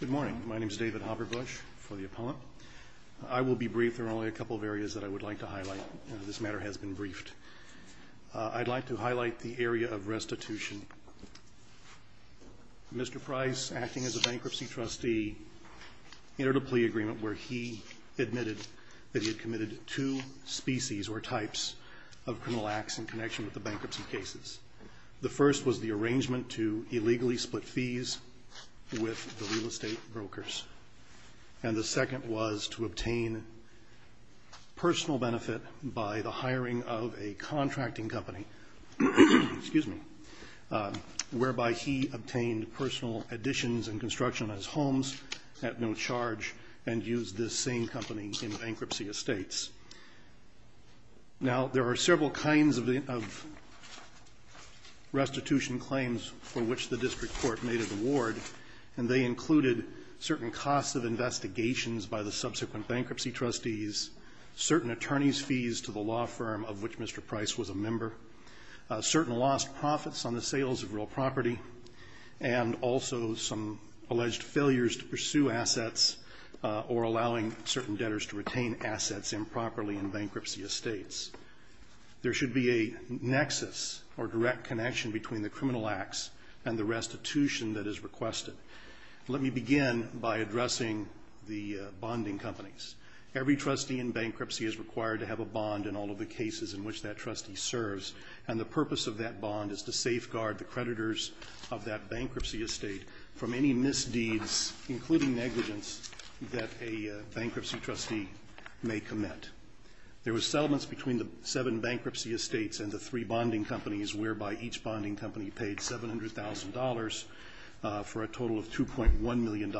Good morning. My name is David Hopper-Bush for The Appellant. I will be brief. There are only a couple of areas that I would like to highlight. This matter has been briefed. I'd like to highlight the area of restitution. Mr. Pryce, acting as a bankruptcy trustee, entered a plea agreement where he admitted that he had committed two species or types of criminal acts in connection with the bankruptcy cases. The first was the arrangement to illegally split fees with the real estate brokers. And the second was to obtain personal benefit by the hiring of a contracting company, whereby he obtained personal additions and construction of his homes at no charge and used this same company in bankruptcy estates. Now, there are several kinds of restitution claims for which the district court made an award, and they included certain costs of investigations by the subsequent bankruptcy trustees, certain attorney's fees to the law firm of which Mr. Pryce was a member, certain lost profits on the sales of real property, and also some alleged failures to pursue assets or allowing certain debtors to retain assets in property. There should be a nexus or direct connection between the criminal acts and the restitution that is requested. Let me begin by addressing the bonding companies. Every trustee in bankruptcy is required to have a bond in all of the cases in which that trustee serves, and the purpose of that bond is to safeguard the creditors of that bankruptcy estate from any misdeeds, including negligence, that a bankruptcy trustee may commit. There were settlements between the seven bankruptcy estates and the three bonding companies, whereby each bonding company paid $700,000 for a total of $2.1 million.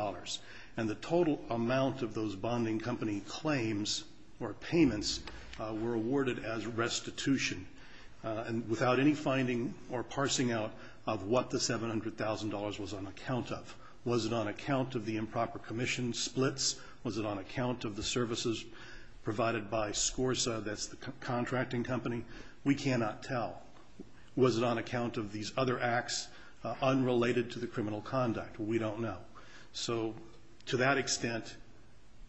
And the total amount of those bonding company claims or payments were awarded as restitution without any finding or parsing out of what the $700,000 was on account of. Was it on account of the improper commission splits? Was it on account of the services provided by SCORSA, that's the contracting company? We cannot tell. Was it on account of these other acts unrelated to the criminal conduct? We don't know. So, to that extent,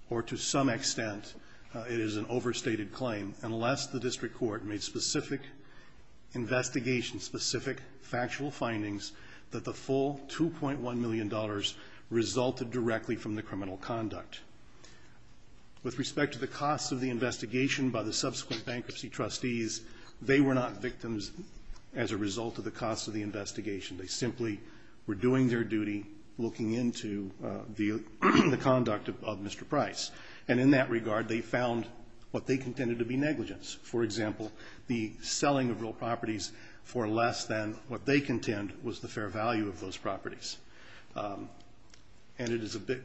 or to some extent, it is an overstated claim, unless the district court made specific investigations, specific factual findings, that the full $2.1 million resulted directly from the criminal conduct. With respect to the cost of the investigation by the subsequent bankruptcy trustees, they were not victims as a result of the cost of the investigation. They simply were doing their duty looking into the conduct of Mr. Price. And in that regard, they found what they contended to be negligence. For example, the selling of real properties for less than what they contend was the fair value of those properties. And it is a bit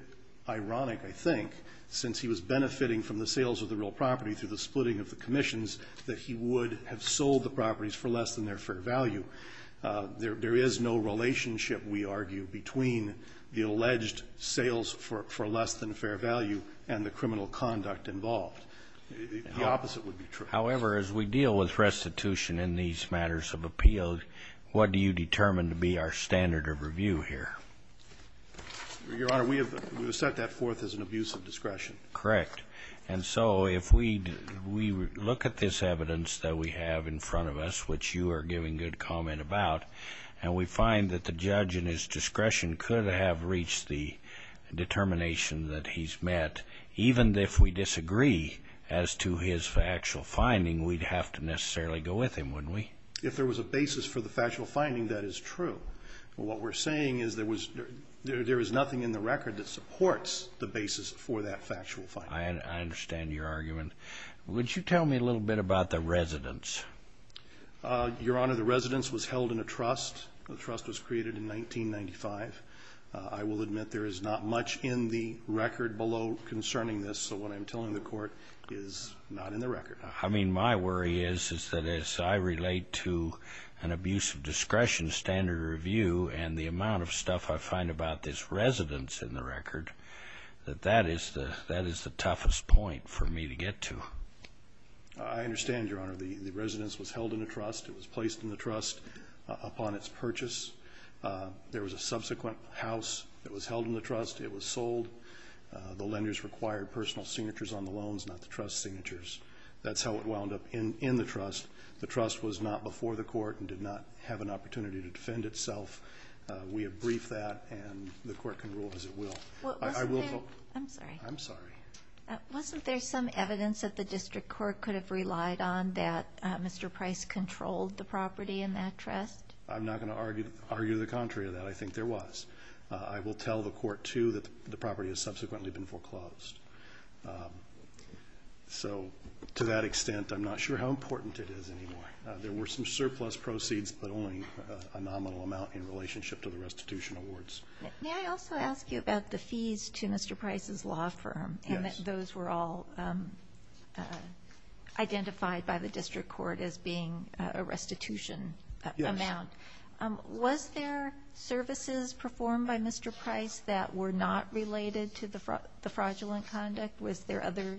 ironic, I think, since he was benefiting from the sales of the real property through the splitting of the commissions, that he would have sold the properties for less than their fair value. There is no relationship, we argue, between the alleged sales for less than fair value and the criminal conduct involved. The opposite would be true. However, as we deal with restitution in these matters of appeal, what do you determine to be our standard of review here? Your Honor, we have set that forth as an abuse of discretion. Correct. And so if we look at this evidence that we have in front of us, which you are giving good comment about, and we find that the judge in his discretion could have reached the determination that he's met, even if we disagree as to his factual finding, we'd have to necessarily go with him, wouldn't we? If there was a basis for the factual finding, that is true. What we're saying is there is nothing in the record that supports the basis for that factual finding. I understand your argument. Would you tell me a little bit about the residence? Your Honor, the residence was held in a trust. The trust was created in 1995. I will admit there is not much in the record below concerning this, so what I'm telling the Court is not in the record. I mean, my worry is that as I relate to an abuse of discretion standard of review and the amount of stuff I find about this residence in the record, that that is the toughest point for me to get to. I understand, Your Honor. The residence was held in a trust. It was placed in the trust upon its purchase. There was a subsequent house that was held in the trust. It was sold. The lenders required personal signatures on the loans, not the trust signatures. That's how it wound up in the trust. The trust was not before the Court and did not have an opportunity to defend itself. We have briefed that, and the Court can rule as it will. Wasn't there some evidence that the District Court could have relied on that Mr. Price controlled the property in that trust? I'm not going to argue the contrary to that. I think there was. I will tell the Court, too, that the property has subsequently been foreclosed. So, to that extent, I'm not sure how important it is anymore. There were some surplus proceeds, but only a nominal amount in relationship to the restitution awards. May I also ask you about the fees to Mr. Price's law firm? Yes. Those were all identified by the District Court as being a restitution amount. Yes. Was there services performed by Mr. Price that were not related to the fraudulent conduct? Was there other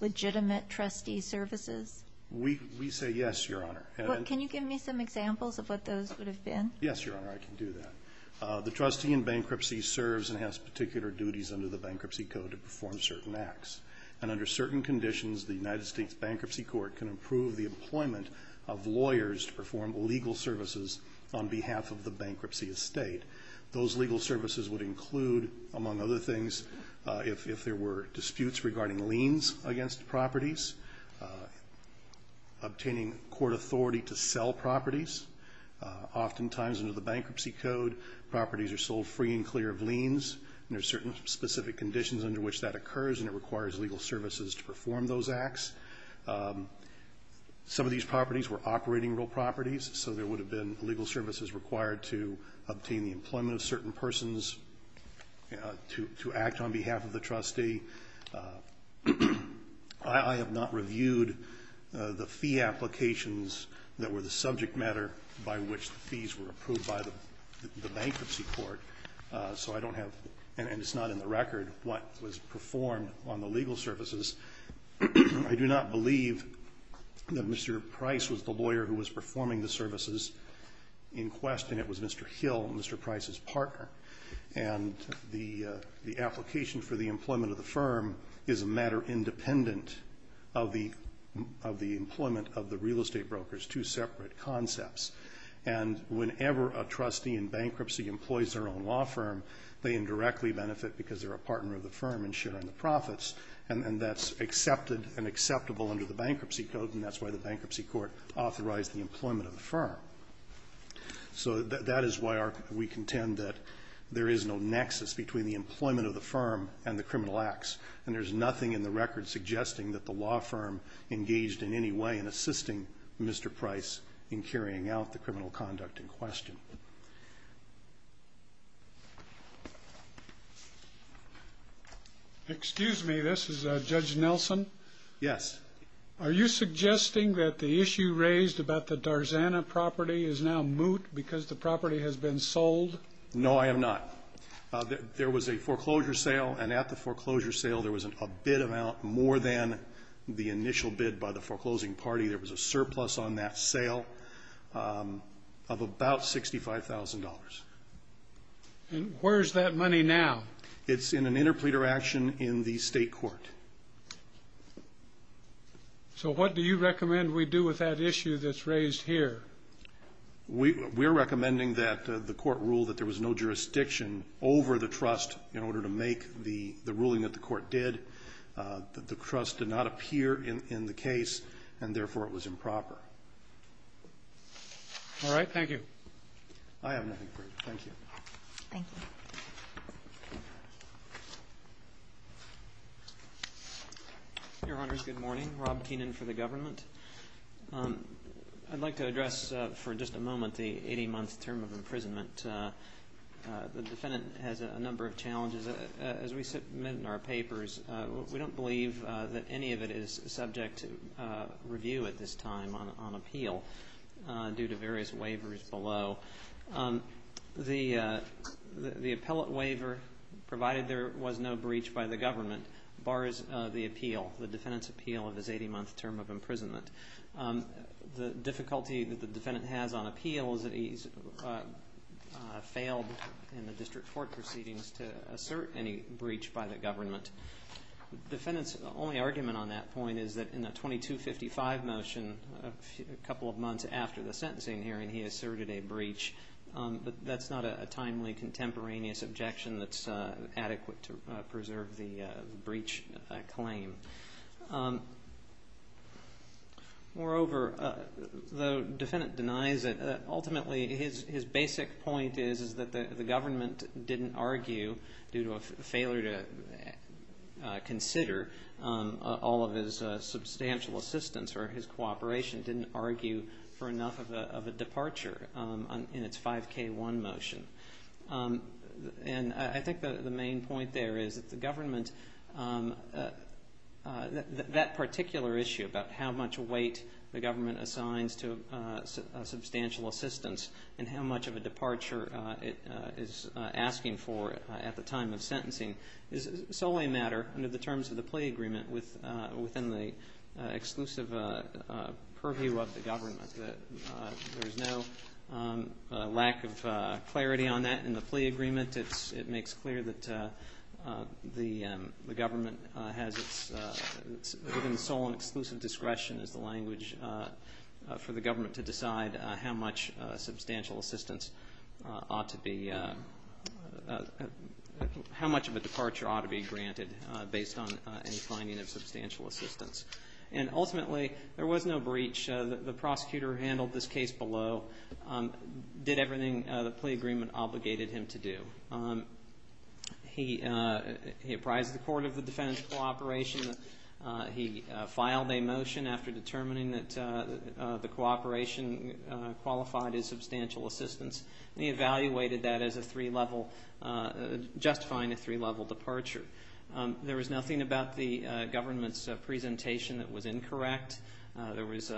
legitimate trustee services? We say yes, Your Honor. Can you give me some examples of what those would have been? Yes, Your Honor, I can do that. The trustee in bankruptcy serves and has particular duties under the Bankruptcy Code to perform certain acts. And under certain conditions, the United States Bankruptcy Court can approve the employment of lawyers to perform legal services on behalf of the bankruptcy estate. Those legal services would include, among other things, if there were disputes regarding liens against properties, obtaining court authority to sell properties. Oftentimes under the Bankruptcy Code, properties are sold free and clear of liens. And there are certain specific conditions under which that occurs, and it requires legal services to perform those acts. Some of these properties were operating real properties, so there would have been legal services required to obtain the employment of certain persons to act on behalf of the trustee. I have not reviewed the fee applications that were the subject matter by which the fees were approved by the Bankruptcy Court. So I don't have, and it's not in the record, what was performed on the legal services. I do not believe that Mr. Price was the lawyer who was performing the services in question. It was Mr. Hill, Mr. Price's partner. And the application for the employment of the firm is a matter independent of the employment of the real estate brokers, two separate concepts. And whenever a trustee in bankruptcy employs their own law firm, they indirectly benefit because they're a partner of the firm in sharing the profits. And that's accepted and acceptable under the Bankruptcy Code, and that's why the Bankruptcy Court authorized the employment of the firm. So that is why we contend that there is no nexus between the employment of the firm and the criminal acts, and there's nothing in the record suggesting that the law firm engaged in any way in assisting Mr. Price in carrying out the criminal conduct in question. Excuse me. This is Judge Nelson. Yes. Are you suggesting that the issue raised about the Darzana property is now moot because the property has been sold? No, I am not. There was a foreclosure sale, and at the foreclosure sale there was a bid amount more than the initial bid by the foreclosing party. There was a surplus on that sale of about $65,000. And where is that money now? It's in an interpleader action in the state court. So what do you recommend we do with that issue that's raised here? We're recommending that the court rule that there was no jurisdiction over the trust in order to make the ruling that the court did, that the trust did not appear in the case, and therefore it was improper. All right. Thank you. I have nothing further. Thank you. Thank you. Your Honors, good morning. Rob Keenan for the government. I'd like to address for just a moment the 80-month term of imprisonment. The defendant has a number of challenges. As we submit in our papers, we don't believe that any of it is subject to review at this time on appeal due to various waivers below. The appellate waiver, provided there was no breach by the government, bars the appeal, the defendant's appeal of his 80-month term of imprisonment. The difficulty that the defendant has on appeal is that he's failed in the district court proceedings to assert any breach by the government. The defendant's only argument on that point is that in the 2255 motion, a couple of months after the sentencing hearing, he asserted a breach. That's not a timely contemporaneous objection that's adequate to preserve the breach claim. Moreover, the defendant denies it. Ultimately, his basic point is that the government didn't argue, due to a failure to consider all of his substantial assistance or his cooperation, didn't argue for enough of a departure in its 5K1 motion. I think the main point there is that the government, that particular issue about how much weight the government assigns to substantial assistance and how much of a departure it is asking for at the time of sentencing, is solely a matter under the terms of the plea agreement within the exclusive purview of the government. There's no lack of clarity on that in the plea agreement. It makes clear that the government has its, within the sole and exclusive discretion is the language for the government to decide how much substantial assistance ought to be, how much of a departure ought to be granted based on any finding of substantial assistance. And ultimately, there was no breach. The prosecutor handled this case below, did everything the plea agreement obligated him to do. He apprised the court of the defendant's cooperation. He filed a motion after determining that the cooperation qualified as substantial assistance. He evaluated that as a three-level, justifying a three-level departure. There was nothing about the government's presentation that was incorrect. There was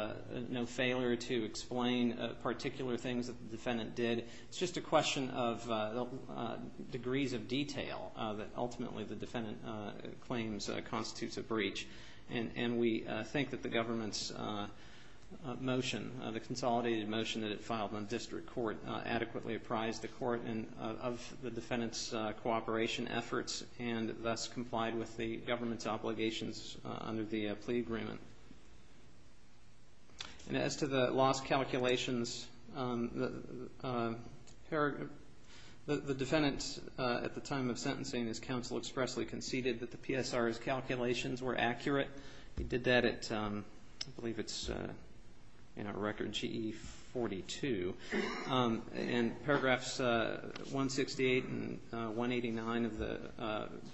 no failure to explain particular things that the defendant did. It's just a question of degrees of detail that ultimately the defendant claims constitutes a breach. And we think that the government's motion, the consolidated motion that it filed on district court, adequately apprised the court of the defendant's cooperation efforts and thus complied with the government's obligations under the plea agreement. And as to the lost calculations, the defendant, at the time of sentencing, his counsel expressly conceded that the PSR's calculations were accurate. He did that at, I believe it's in our record, GE 42. And paragraphs 168 and 189 of the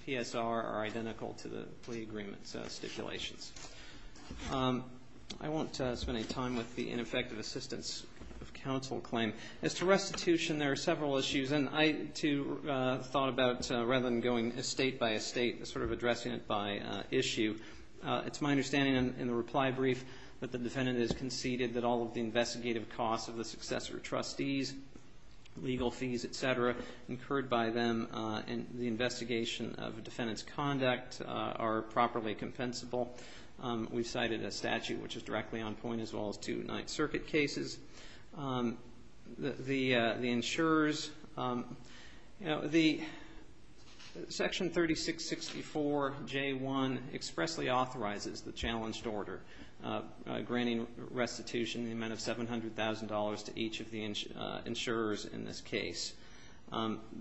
PSR are identical to the plea agreement's stipulations. I won't spend any time with the ineffective assistance of counsel claim. As to restitution, there are several issues. And I, too, thought about rather than going state by state, sort of addressing it by issue. It's my understanding in the reply brief that the defendant has conceded that all of the investigative costs of the successor trustees, legal fees, et cetera, incurred by them in the investigation of the defendant's conduct are properly compensable. We've cited a statute which is directly on point as well as two Ninth Circuit cases. The insurers, you know, the section 3664J1 expressly authorizes the challenged order, granting restitution in the amount of $700,000 to each of the insurers in this case.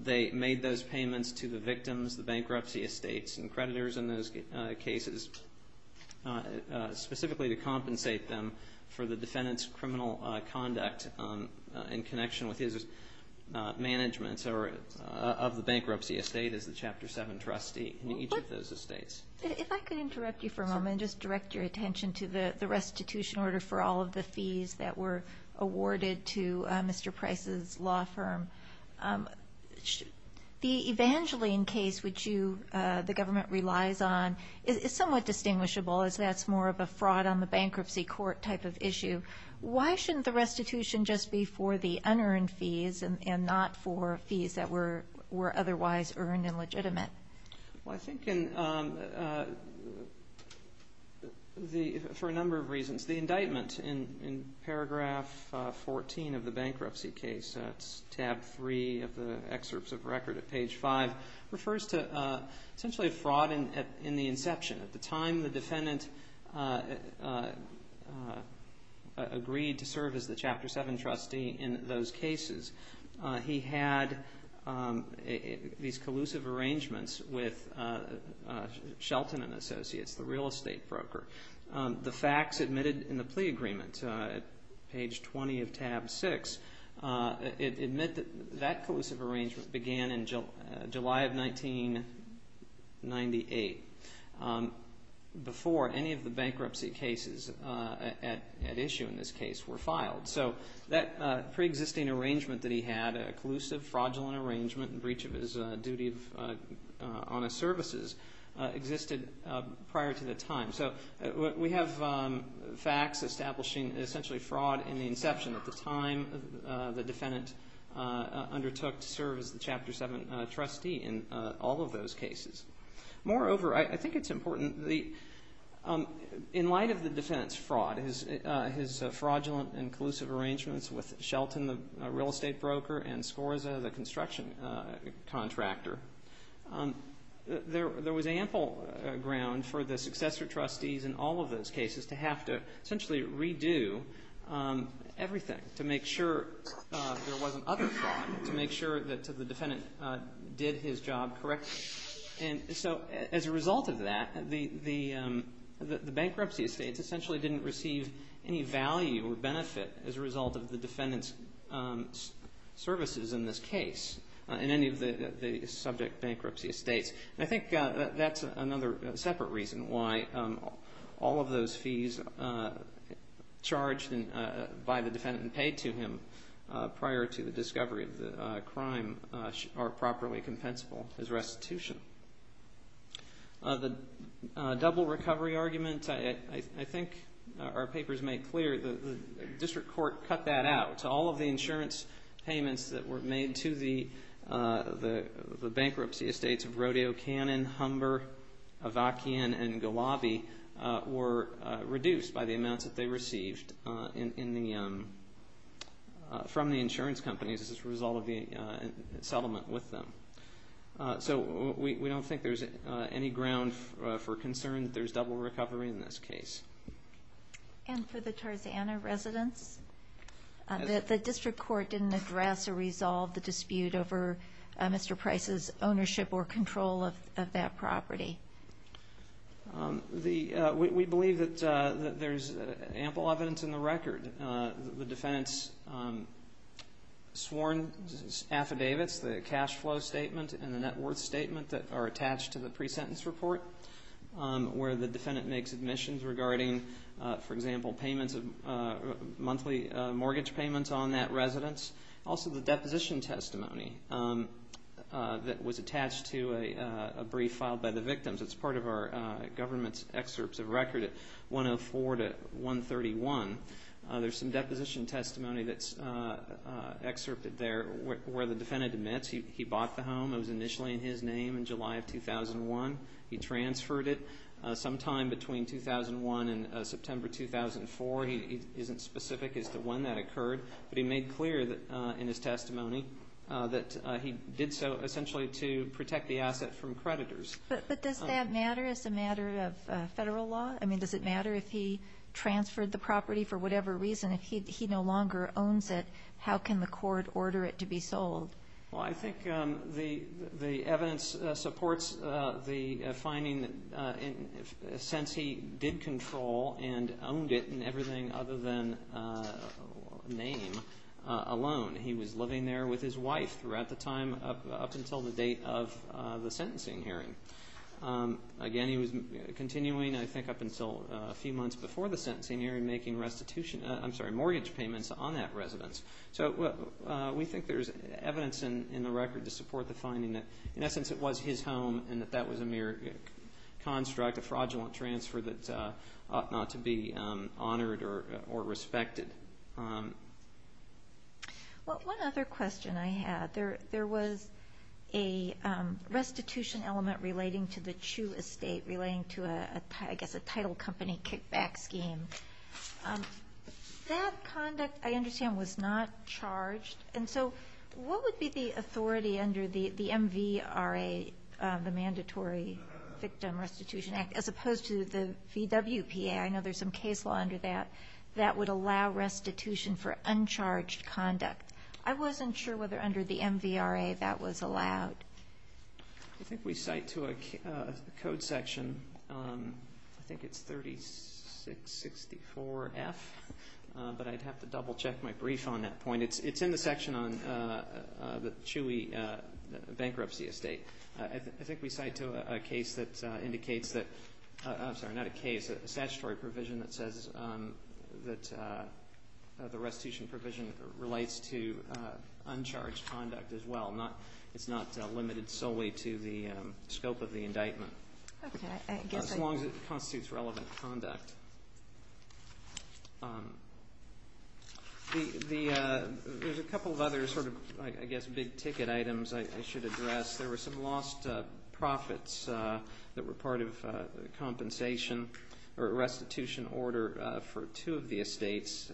They made those payments to the victims, the bankruptcy estates and creditors in those cases, specifically to compensate them for the defendant's criminal conduct in connection with his management of the bankruptcy estate as the Chapter 7 trustee in each of those estates. If I could interrupt you for a moment and just direct your attention to the restitution order for all of the fees that were awarded to Mr. Price's law firm. The Evangeline case, which the government relies on, is somewhat distinguishable as that's more of a fraud on the bankruptcy court type of issue. Why shouldn't the restitution just be for the unearned fees and not for fees that were otherwise earned and legitimate? Well, I think for a number of reasons. The indictment in paragraph 14 of the bankruptcy case, that's tab 3 of the excerpts of record at page 5, refers to essentially a fraud in the inception. At the time the defendant agreed to serve as the Chapter 7 trustee in those cases, he had these collusive arrangements with Shelton & Associates, the real estate broker. The facts admitted in the plea agreement, page 20 of tab 6, admit that that collusive arrangement began in July of 1998, before any of the bankruptcy cases at issue in this case were filed. So that preexisting arrangement that he had, a collusive, fraudulent arrangement in breach of his duty of honest services, existed prior to the time. So we have facts establishing essentially fraud in the inception. At the time, the defendant undertook to serve as the Chapter 7 trustee in all of those cases. Moreover, I think it's important, in light of the defendant's fraud, his fraudulent and collusive arrangements with Shelton, the real estate broker, and Scorza, the construction contractor, there was ample ground for the successor trustees in all of those cases to have to essentially redo everything to make sure there wasn't other fraud, to make sure that the defendant did his job correctly. So as a result of that, the bankruptcy estates essentially didn't receive any value or benefit as a result of the defendant's services in this case, in any of the subject bankruptcy estates. And I think that's another separate reason why all of those fees charged by the defendant and paid to him prior to the discovery of the crime are properly compensable as restitution. The double recovery argument, I think our papers make clear, the district court cut that out. All of the insurance payments that were made to the bankruptcy estates of Rodeo Cannon, Humber, Avakian, and Gulabi were reduced by the amounts that they received from the insurance companies as a result of the settlement with them. So we don't think there's any ground for concern that there's double recovery in this case. And for the Tarzana residence, the district court didn't address or resolve the dispute over Mr. Price's ownership or control of that property. We believe that there's ample evidence in the record. The defendant's sworn affidavits, the cash flow statement and the net worth statement that are attached to the pre-sentence report where the defendant makes admissions regarding, for example, monthly mortgage payments on that residence. Also the deposition testimony that was attached to a brief filed by the victims. It's part of our government's excerpts of record at 104 to 131. There's some deposition testimony that's excerpted there where the defendant admits he bought the home. It was initially in his name in July of 2001. He transferred it sometime between 2001 and September 2004. He isn't specific as to when that occurred. But he made clear in his testimony that he did so essentially to protect the asset from creditors. But does that matter as a matter of federal law? I mean, does it matter if he transferred the property for whatever reason? If he no longer owns it, how can the court order it to be sold? Well, I think the evidence supports the finding that since he did control and owned it in everything other than name alone, he was living there with his wife throughout the time up until the date of the sentencing hearing. Again, he was continuing, I think, up until a few months before the sentencing hearing, making mortgage payments on that residence. So we think there's evidence in the record to support the finding that, in essence, it was his home and that that was a mere construct, a fraudulent transfer that ought not to be honored or respected. One other question I had, there was a restitution element relating to the Chu estate, relating to, I guess, a title company kickback scheme. That conduct, I understand, was not charged. And so what would be the authority under the MVRA, the Mandatory Victim Restitution Act, as opposed to the VWPA? I know there's some case law under that that would allow restitution for uncharged conduct. I wasn't sure whether under the MVRA that was allowed. I think we cite to a code section, I think it's 3664F, but I'd have to double-check my brief on that point. It's in the section on the Chewy bankruptcy estate. I think we cite to a case that indicates that, I'm sorry, not a case, a statutory provision that says that the restitution provision relates to uncharged conduct as well. It's not limited solely to the scope of the indictment, as long as it constitutes relevant conduct. There's a couple of other sort of, I guess, big-ticket items I should address. There were some lost profits that were part of compensation or restitution order for two of the estates,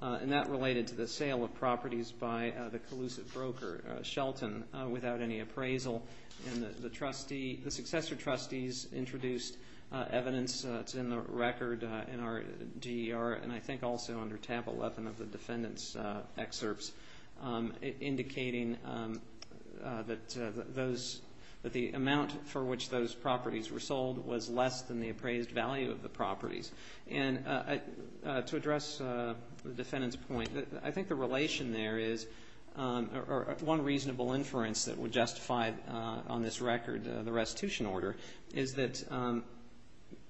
and that related to the sale of properties by the collusive broker, Shelton, without any appraisal. The successor trustees introduced evidence that's in the record in our DER, and I think also under tab 11 of the defendant's excerpts, indicating that the amount for which those properties were sold was less than the appraised value of the properties. And to address the defendant's point, I think the relation there is, or one reasonable inference that would justify on this record the restitution order, is that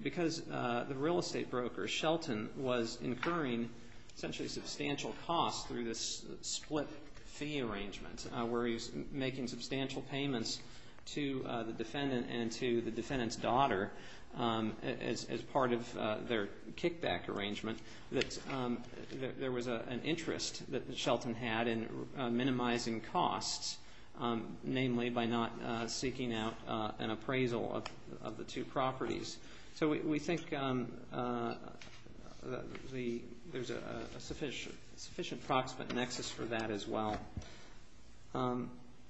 because the real estate broker, Shelton, was incurring essentially substantial costs through this split fee arrangement where he was making substantial payments to the defendant and to the defendant's daughter as part of their kickback arrangement, that there was an interest that Shelton had in minimizing costs, namely by not seeking out an appraisal of the two properties. So we think there's a sufficient approximate nexus for that as well.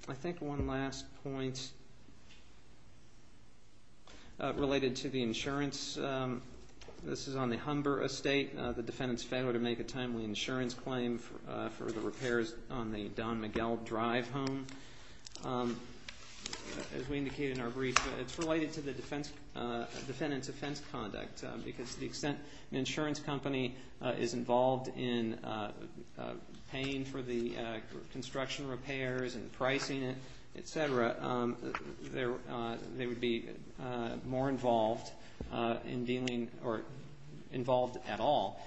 I think one last point related to the insurance. This is on the Humber estate. The defendant's failure to make a timely insurance claim for the repairs on the Don Miguel Drive home. As we indicated in our brief, it's related to the defendant's offense conduct because to the extent an insurance company is involved in paying for the construction repairs and pricing it, et cetera, they would be more involved in dealing, or involved at all,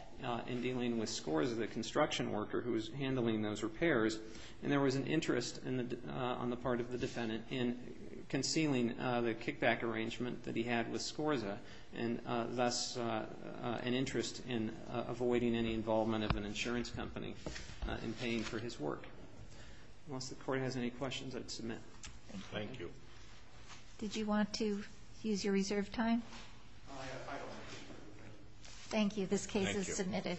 in dealing with Scorza, the construction worker who was handling those repairs. And there was an interest on the part of the defendant in concealing the kickback arrangement that he had with Scorza, and thus an interest in avoiding any involvement of an insurance company in paying for his work. Unless the court has any questions, I'd submit. Thank you. Did you want to use your reserved time? I don't want to. Thank you. This case is submitted.